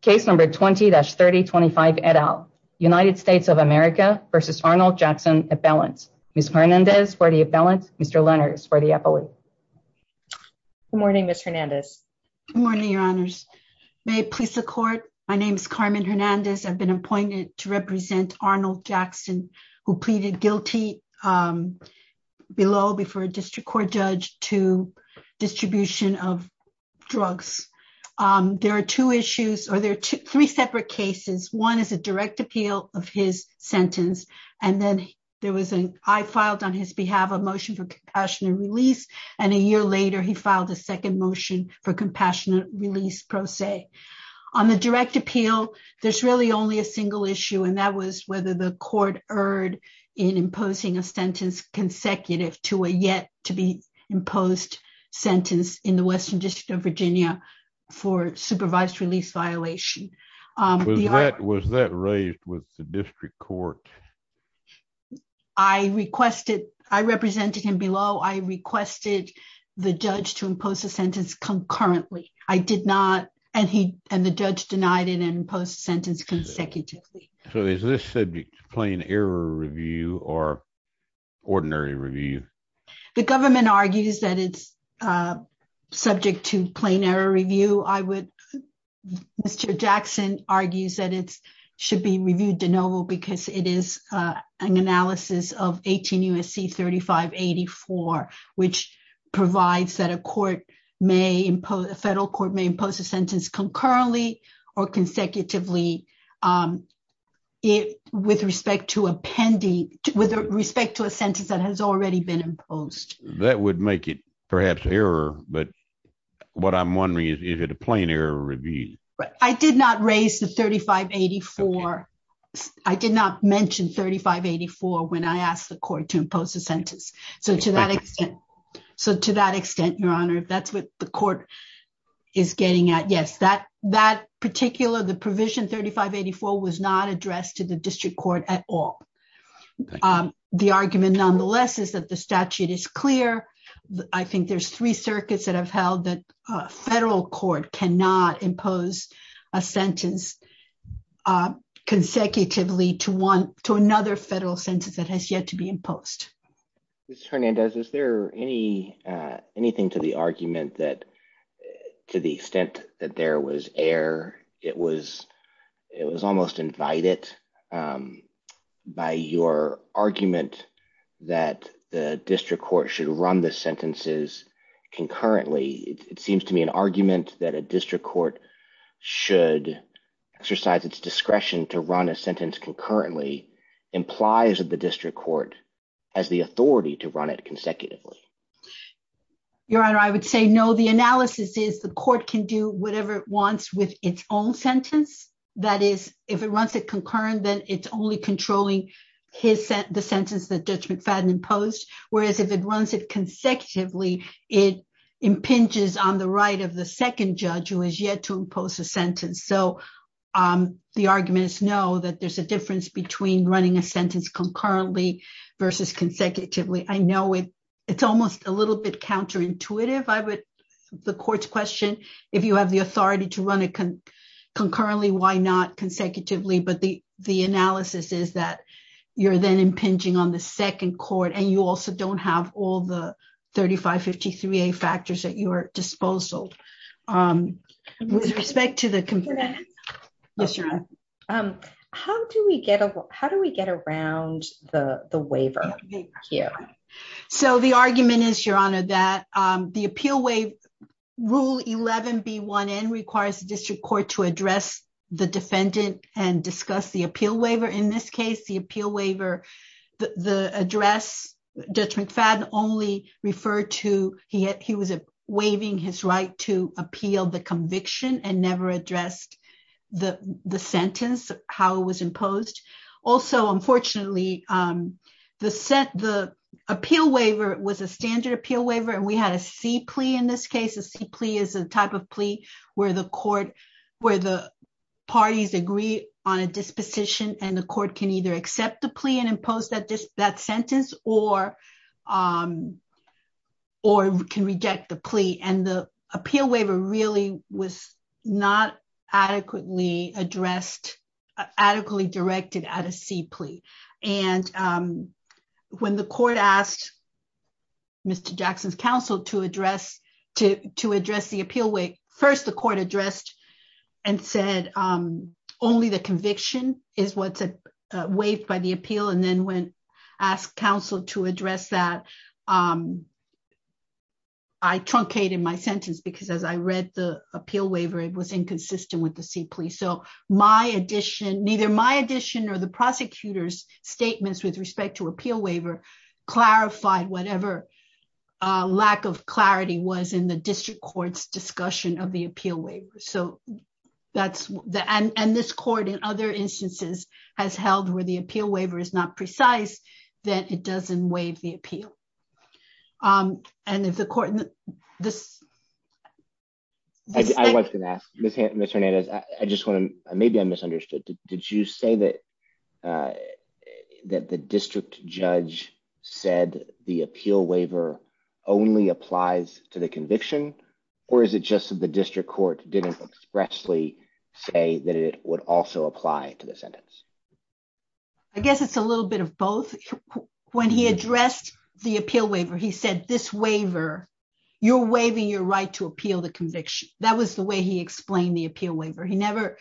case number 20-3025 et al. United States of America v. Arnold Jackson appellant. Ms. Hernandez for the appellant. Mr. Lenners for the appellate. Good morning, Ms. Hernandez. Good morning, your honors. May it please the court. My name is Carmen Hernandez. I've been appointed to represent Arnold Jackson, who pleaded guilty below before a district court judge to distribution of drugs. There are two issues or there are three separate cases. One is a direct appeal of his sentence. And then there was an I filed on his behalf a motion for compassionate release. And a year later he filed a second motion for compassionate release pro se. On the direct appeal. There's really only a single issue and that was whether the court erred in imposing a sentence consecutive to a yet to be imposed sentence in the Western District of Virginia for supervised release violation. Was that raised with the district court. I requested I represented him below. I requested the judge to impose a sentence concurrently. I did not. And he and the judge denied it and post sentence consecutively. So is this subject to plain error review or ordinary review the government argues that it's subject to plain error review, I would. Mr. Jackson argues that it's should be reviewed de novo because it is an analysis of 18 USC 3584, which provides that a court may impose a federal court may impose a sentence concurrently or consecutively. It with respect to appendix, with respect to a sentence that has already been imposed, that would make it perhaps error, but what I'm wondering is, is it a plain error review, but I did not raise the 3584. I did not mention 3584 when I asked the court to impose a sentence. So to that extent. So to that extent, Your Honor, if that's what the court is getting at yes that that particular the provision 3584 was not addressed to the district court at all. The argument nonetheless is that the statute is clear. I think there's three circuits that have held that federal court cannot impose a sentence consecutively to one to another federal sentence that has yet to be imposed. Ms. Hernandez, is there anything to the argument that to the extent that there was error, it was almost invited by your argument that the district court should run the sentences concurrently. It seems to me an argument that a district court should exercise its discretion to run a sentence concurrently implies that the district court has the authority to run it consecutively. Your Honor, I would say no. The analysis is the court can do whatever it wants with its own sentence. That is, if it runs a concurrent then it's only controlling his sentence, the sentence that Judge McFadden imposed, whereas if it runs it consecutively, it impinges on the right of the second judge who is yet to impose a sentence. The argument is no, that there's a difference between running a sentence concurrently versus consecutively. I know it's almost a little bit counterintuitive. The court's question, if you have the authority to run it concurrently, why not consecutively, but the analysis is that you're then impinging on the second court and you also don't have all the 3553A factors at your disposal. With respect to the concurrent, how do we get around the waiver? So the argument is, Your Honor, that the Appeal Waiver Rule 11B1N requires the district court to address the defendant and discuss the appeal waiver. In this case, the appeal waiver, the address, Judge McFadden only referred to, he was waiving his right to appeal the conviction and never addressed the sentence, how it was imposed. Also, unfortunately, the appeal waiver was a standard appeal waiver and we had a C plea in this case. A C plea is a type of plea where the parties agree on a disposition and the court can either accept the plea and impose that sentence or can reject the plea. And the appeal waiver really was not adequately addressed, adequately directed at a C plea. And when the court asked Mr. Jackson's counsel to address the appeal, first the court addressed and said only the conviction is what's waived by the appeal. And then when asked counsel to address that, I truncated my sentence because as I read the appeal waiver, it was inconsistent with the C plea. So my addition, neither my addition or the prosecutor's statements with respect to appeal waiver clarified whatever lack of clarity was in the district court's discussion of the appeal waiver. And this court in other instances has held where the appeal waiver is not precise, then it doesn't waive the appeal. I was going to ask, Mr. Hernandez, maybe I misunderstood. Did you say that the district judge said the appeal waiver only applies to the conviction or is it just that the district court didn't expressly say that it would also apply to the sentence? I guess it's a little bit of both. When he addressed the appeal waiver, he said this waiver, you're waiving your right to appeal the conviction. That was the way he explained the appeal waiver. He never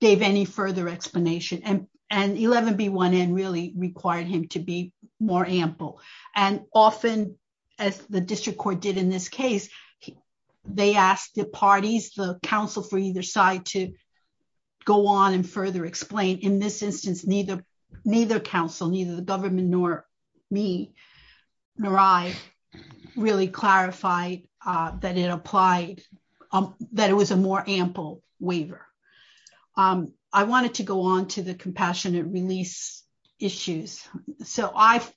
gave any further explanation. And 11B1N really required him to be more ample. And often, as the district court did in this case, they asked the parties, the counsel for either side to go on and further explain. In this instance, neither counsel, neither the government nor me, nor I really clarified that it applied, that it was a more ample waiver. I wanted to go on to the compassionate release issues. So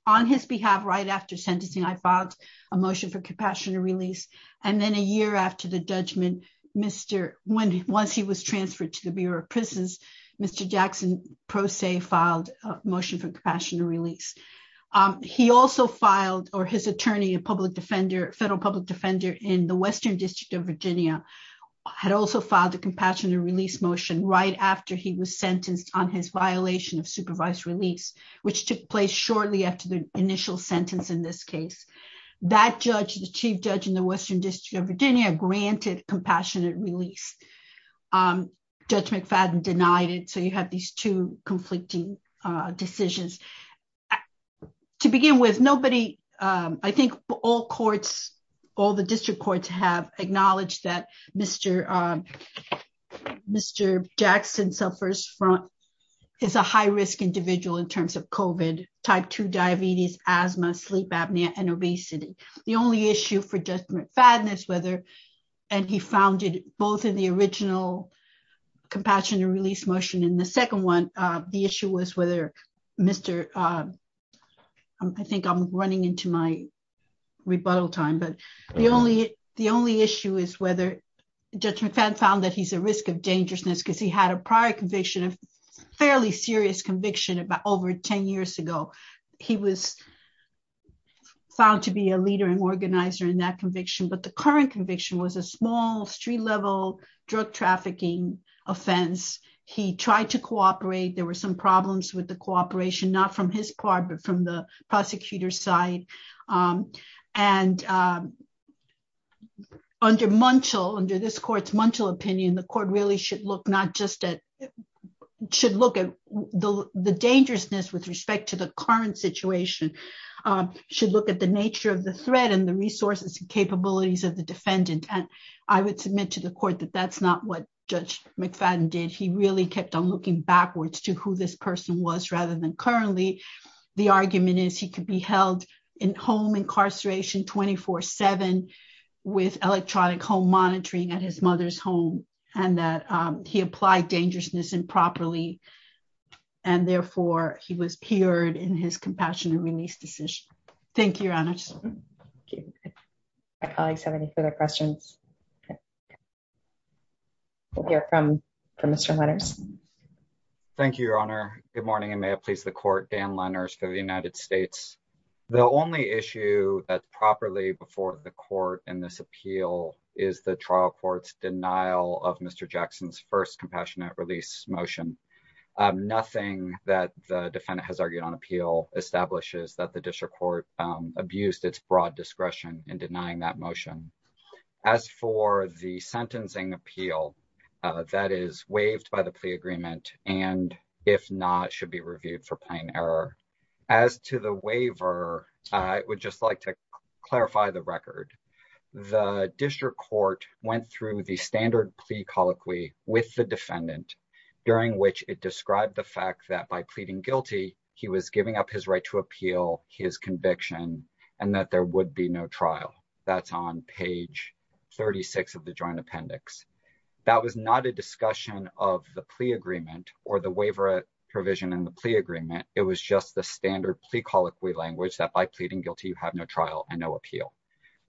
on his behalf, right after sentencing, I filed a motion for compassionate release. And then a year after the judgment, once he was transferred to the Bureau of Prisons, Mr. Jackson, pro se, filed a motion for compassionate release. He also filed, or his attorney, a federal public defender in the Western District of Virginia, had also filed a compassionate release motion right after he was sentenced on his violation of supervised release, which took place shortly after the initial sentence in this case. That judge, the chief judge in the Western District of Virginia, granted compassionate release. Judge McFadden denied it. So you have these two conflicting decisions. To begin with, nobody, I think all courts, all the district courts have acknowledged that Mr. Jackson suffers from, is a high-risk individual in terms of COVID, type 2 diabetes, asthma, sleep apnea, and obesity. The only issue for Judge McFadden is whether, and he found it both in the original compassionate release motion and the second one, the issue was whether Mr., I think I'm running into my rebuttal time, but the only issue is whether Judge McFadden found that he's a risk of dangerousness because he had a prior conviction, a fairly serious conviction about over 10 years ago. He was found to be a leader and organizer in that conviction, but the current conviction was a small street-level drug trafficking offense. He tried to cooperate. There were some problems with the cooperation, not from his part, but from the prosecutor's side. And under Munchell, under this court's Munchell opinion, the court really should look not just at, should look at the dangerousness with respect to the current situation, should look at the nature of the threat and the resources and capabilities of the defendant. And I would submit to the court that that's not what Judge McFadden did. He really kept on looking backwards to who this person was rather than currently. The argument is he could be held in home incarceration 24-7 with electronic home monitoring at his mother's home, and that he applied dangerousness improperly, and therefore he was peered in his compassionate release decision. Thank you, Your Honors. My colleagues have any further questions? We'll hear from Mr. Lenners. Thank you, Your Honor. Good morning, and may it please the court, Dan Lenners for the United States. The only issue properly before the court in this appeal is the trial court's denial of Mr. Jackson's first compassionate release motion. Nothing that the defendant has argued on appeal establishes that the district court abused its broad discretion in denying that motion. As for the sentencing appeal, that is waived by the plea agreement, and if not, should be reviewed for plain error. As to the waiver, I would just like to clarify the record. The district court went through the standard plea colloquy with the defendant, during which it described the fact that by pleading guilty, he was giving up his right to appeal his conviction, and that there would be no trial. That's on page 36 of the joint appendix. That was not a discussion of the plea agreement or the waiver provision in the plea agreement. It was just the standard plea colloquy language that by pleading guilty, you have no trial and no appeal.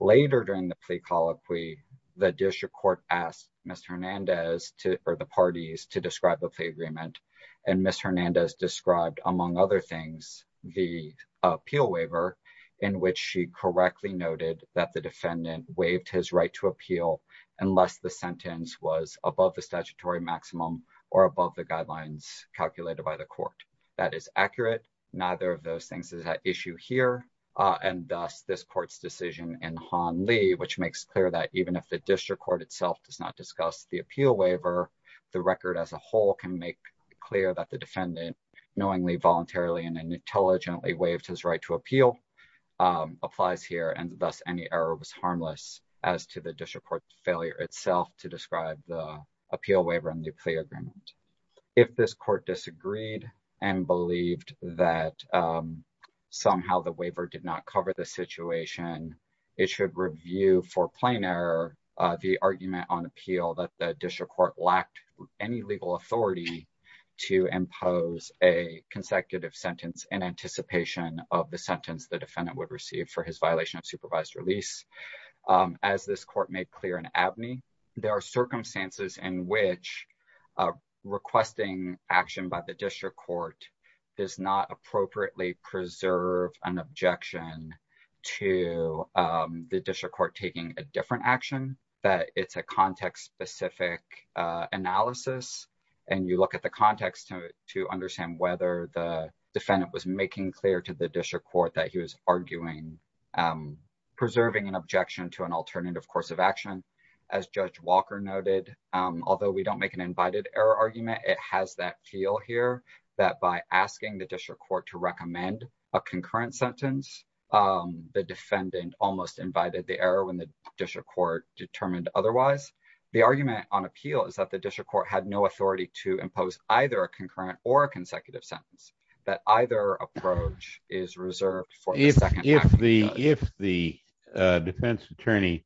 Later during the plea colloquy, the district court asked Mr. Hernandez, or the parties, to describe the plea agreement, and Ms. Hernandez described, among other things, the appeal waiver, in which she correctly noted that the defendant waived his right to appeal unless the sentence was above the statutory maximum or above the guidelines calculated by the court. That is accurate. Neither of those things is at issue here, and thus this court's decision in Han Lee, which makes clear that even if the district court itself does not discuss the appeal waiver, the record as a whole can make clear that the defendant knowingly, voluntarily, and intelligently waived his right to appeal applies here, and thus any error was harmless as to the district court's failure itself to describe the appeal waiver and the plea agreement. If this court disagreed and believed that somehow the waiver did not cover the situation, it should review for plain error the argument on appeal that the district court lacked any legal authority to impose a consecutive sentence in anticipation of the sentence the defendant would receive for his violation of supervised release. As this court made clear in Abney, there are circumstances in which requesting action by the district court does not appropriately preserve an objection to the district court taking a different action, that it's a context-specific analysis, and you look at the context to understand whether the defendant was making clear to the district court that he was arguing, preserving an objection to an alternative course of action. As Judge Walker noted, although we don't make an invited error argument, it has that feel here that by asking the district court to recommend a concurrent sentence, the defendant almost invited the error when the district court determined otherwise. If the defense attorney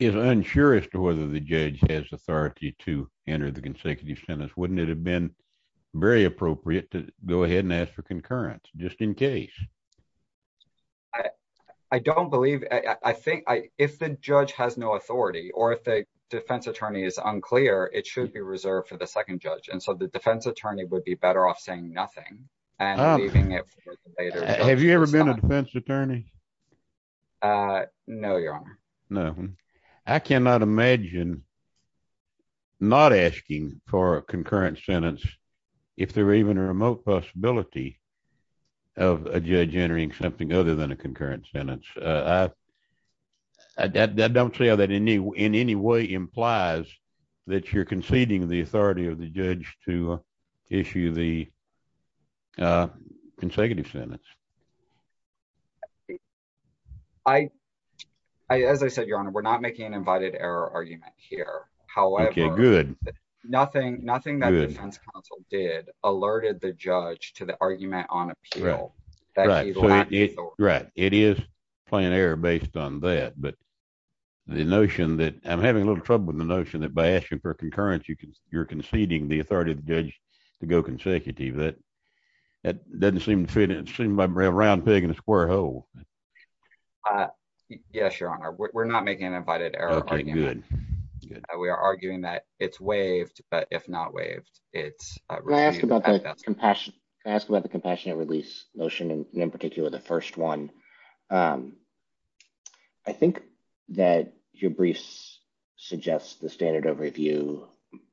is unsure as to whether the judge has authority to enter the consecutive sentence, wouldn't it have been very appropriate to go ahead and ask for concurrence, just in case? I don't believe, I think if the judge has no authority, or if the defense attorney is unclear, it should be reserved for the second judge. And so the defense attorney would be better off saying nothing. Have you ever been a defense attorney? No, Your Honor. I cannot imagine not asking for a concurrent sentence if there were even a remote possibility of a judge entering something other than a concurrent sentence. I don't see how that in any way implies that you're conceding the authority of the judge to issue the consecutive sentence. As I said, Your Honor, we're not making an invited error argument here. However, nothing that the defense counsel did alerted the judge to the argument on appeal. Right. It is plain error based on that. But the notion that I'm having a little trouble with the notion that by asking for concurrence, you're conceding the authority of the judge to go consecutive. That doesn't seem to fit in. It seems like a round pig in a square hole. Yes, Your Honor. We're not making an invited error argument. We are arguing that it's waived, if not waived. When I asked about the compassionate release notion, and in particular the first one, I think that your briefs suggest the standard of review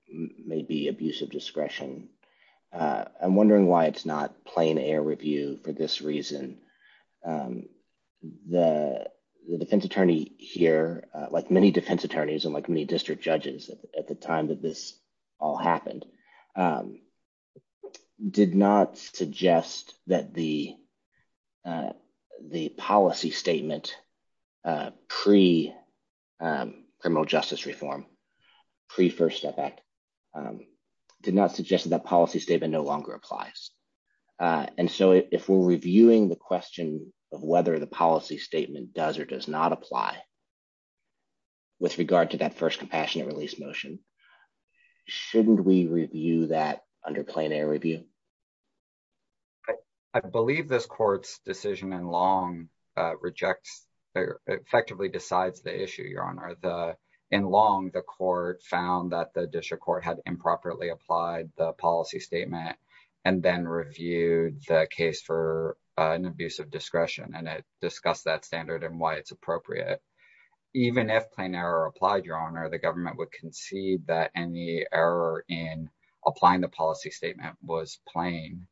may be abuse of discretion. I'm wondering why it's not plain error review for this reason. The defense attorney here, like many defense attorneys and like many district judges at the time that this all happened, did not suggest that the policy statement pre-Criminal Justice Reform, pre-First Step Act, did not suggest that that policy statement no longer applies. And so if we're reviewing the question of whether the policy statement does or does not apply with regard to that first compassionate release motion, shouldn't we review that under plain error review? I believe this court's decision in Long rejects or effectively decides the issue, Your Honor. In Long, the court found that the district court had improperly applied the policy statement and then reviewed the case for an abuse of discretion, and it discussed that standard and why it's appropriate. Even if plain error applied, Your Honor, the government would concede that any error in applying the policy statement was plain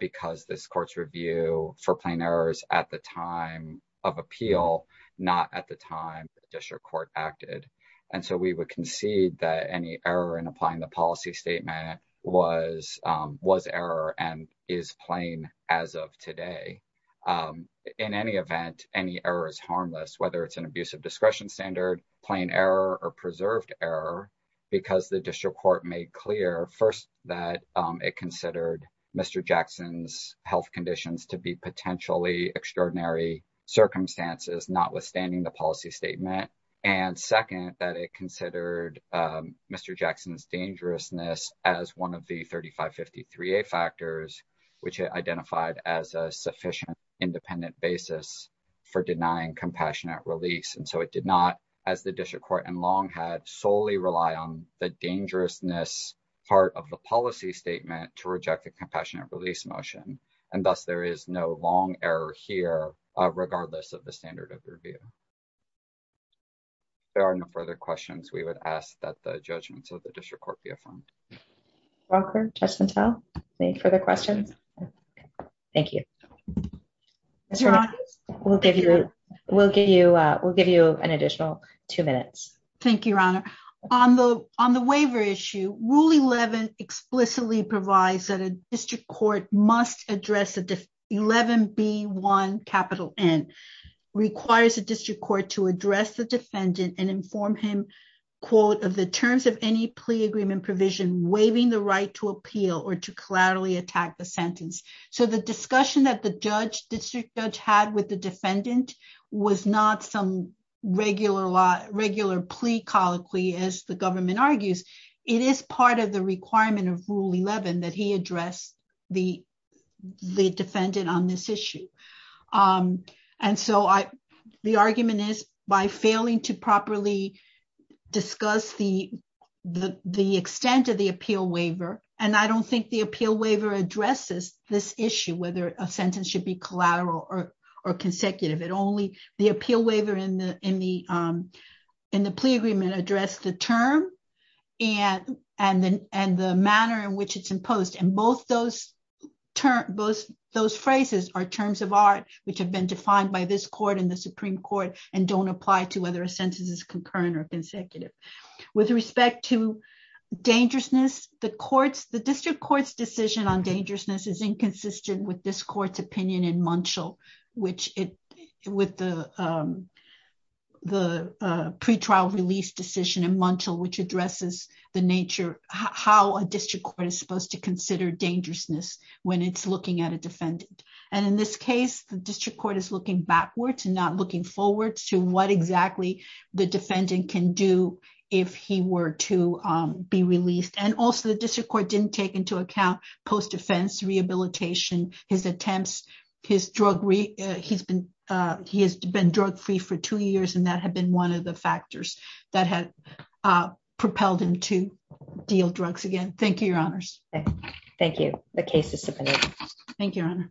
because this court's review for plain errors at the time of appeal, not at the time the district court acted. And so we would concede that any error in applying the policy statement was error and is plain as of today. In any event, any error is harmless, whether it's an abuse of discretion standard, plain error, or preserved error, because the district court made clear, first, that it considered Mr. Jackson's health conditions to be potentially extraordinary circumstances, notwithstanding the policy statement. And second, that it considered Mr. Jackson's dangerousness as one of the 3553A factors, which it identified as a sufficient independent basis for denying compassionate release. And so it did not, as the district court in Long had, solely rely on the dangerousness part of the policy statement to reject the compassionate release motion, and thus there is no long error here, regardless of the standard of review. There are no further questions. We would ask that the judgments of the district court be affirmed. Walker, Justice Mantel, any further questions? Thank you. We'll give you an additional two minutes. Thank you, Your Honor. On the waiver issue, Rule 11 explicitly provides that a district court must address the 11B1N, requires the district court to address the defendant and inform him, quote, of the terms of any plea agreement provision waiving the right to appeal or to collaterally attack the sentence. So the discussion that the district judge had with the defendant was not some regular plea colloquy, as the government argues. It is part of the requirement of Rule 11 that he address the defendant on this issue. And so the argument is, by failing to properly discuss the extent of the appeal waiver, and I don't think the appeal waiver addresses this issue, whether a sentence should be collateral or consecutive, only the appeal waiver in the plea agreement address the term and the manner in which it's imposed. And both those phrases are terms of art, which have been defined by this court and the Supreme Court and don't apply to whether a sentence is concurrent or consecutive. With respect to dangerousness, the district court's decision on dangerousness is inconsistent with this court's opinion in Munchell, with the pretrial release decision in Munchell, which addresses the nature, how a district court is supposed to consider dangerousness when it's looking at a defendant. And in this case, the district court is looking backwards and not looking forward to what exactly the defendant can do if he were to be released. And also, the district court didn't take into account post-defense rehabilitation, his attempts, his drug, he has been drug free for two years, and that had been one of the factors that had propelled him to deal drugs again. Thank you, Your Honors. Thank you. The case is submitted. Thank you.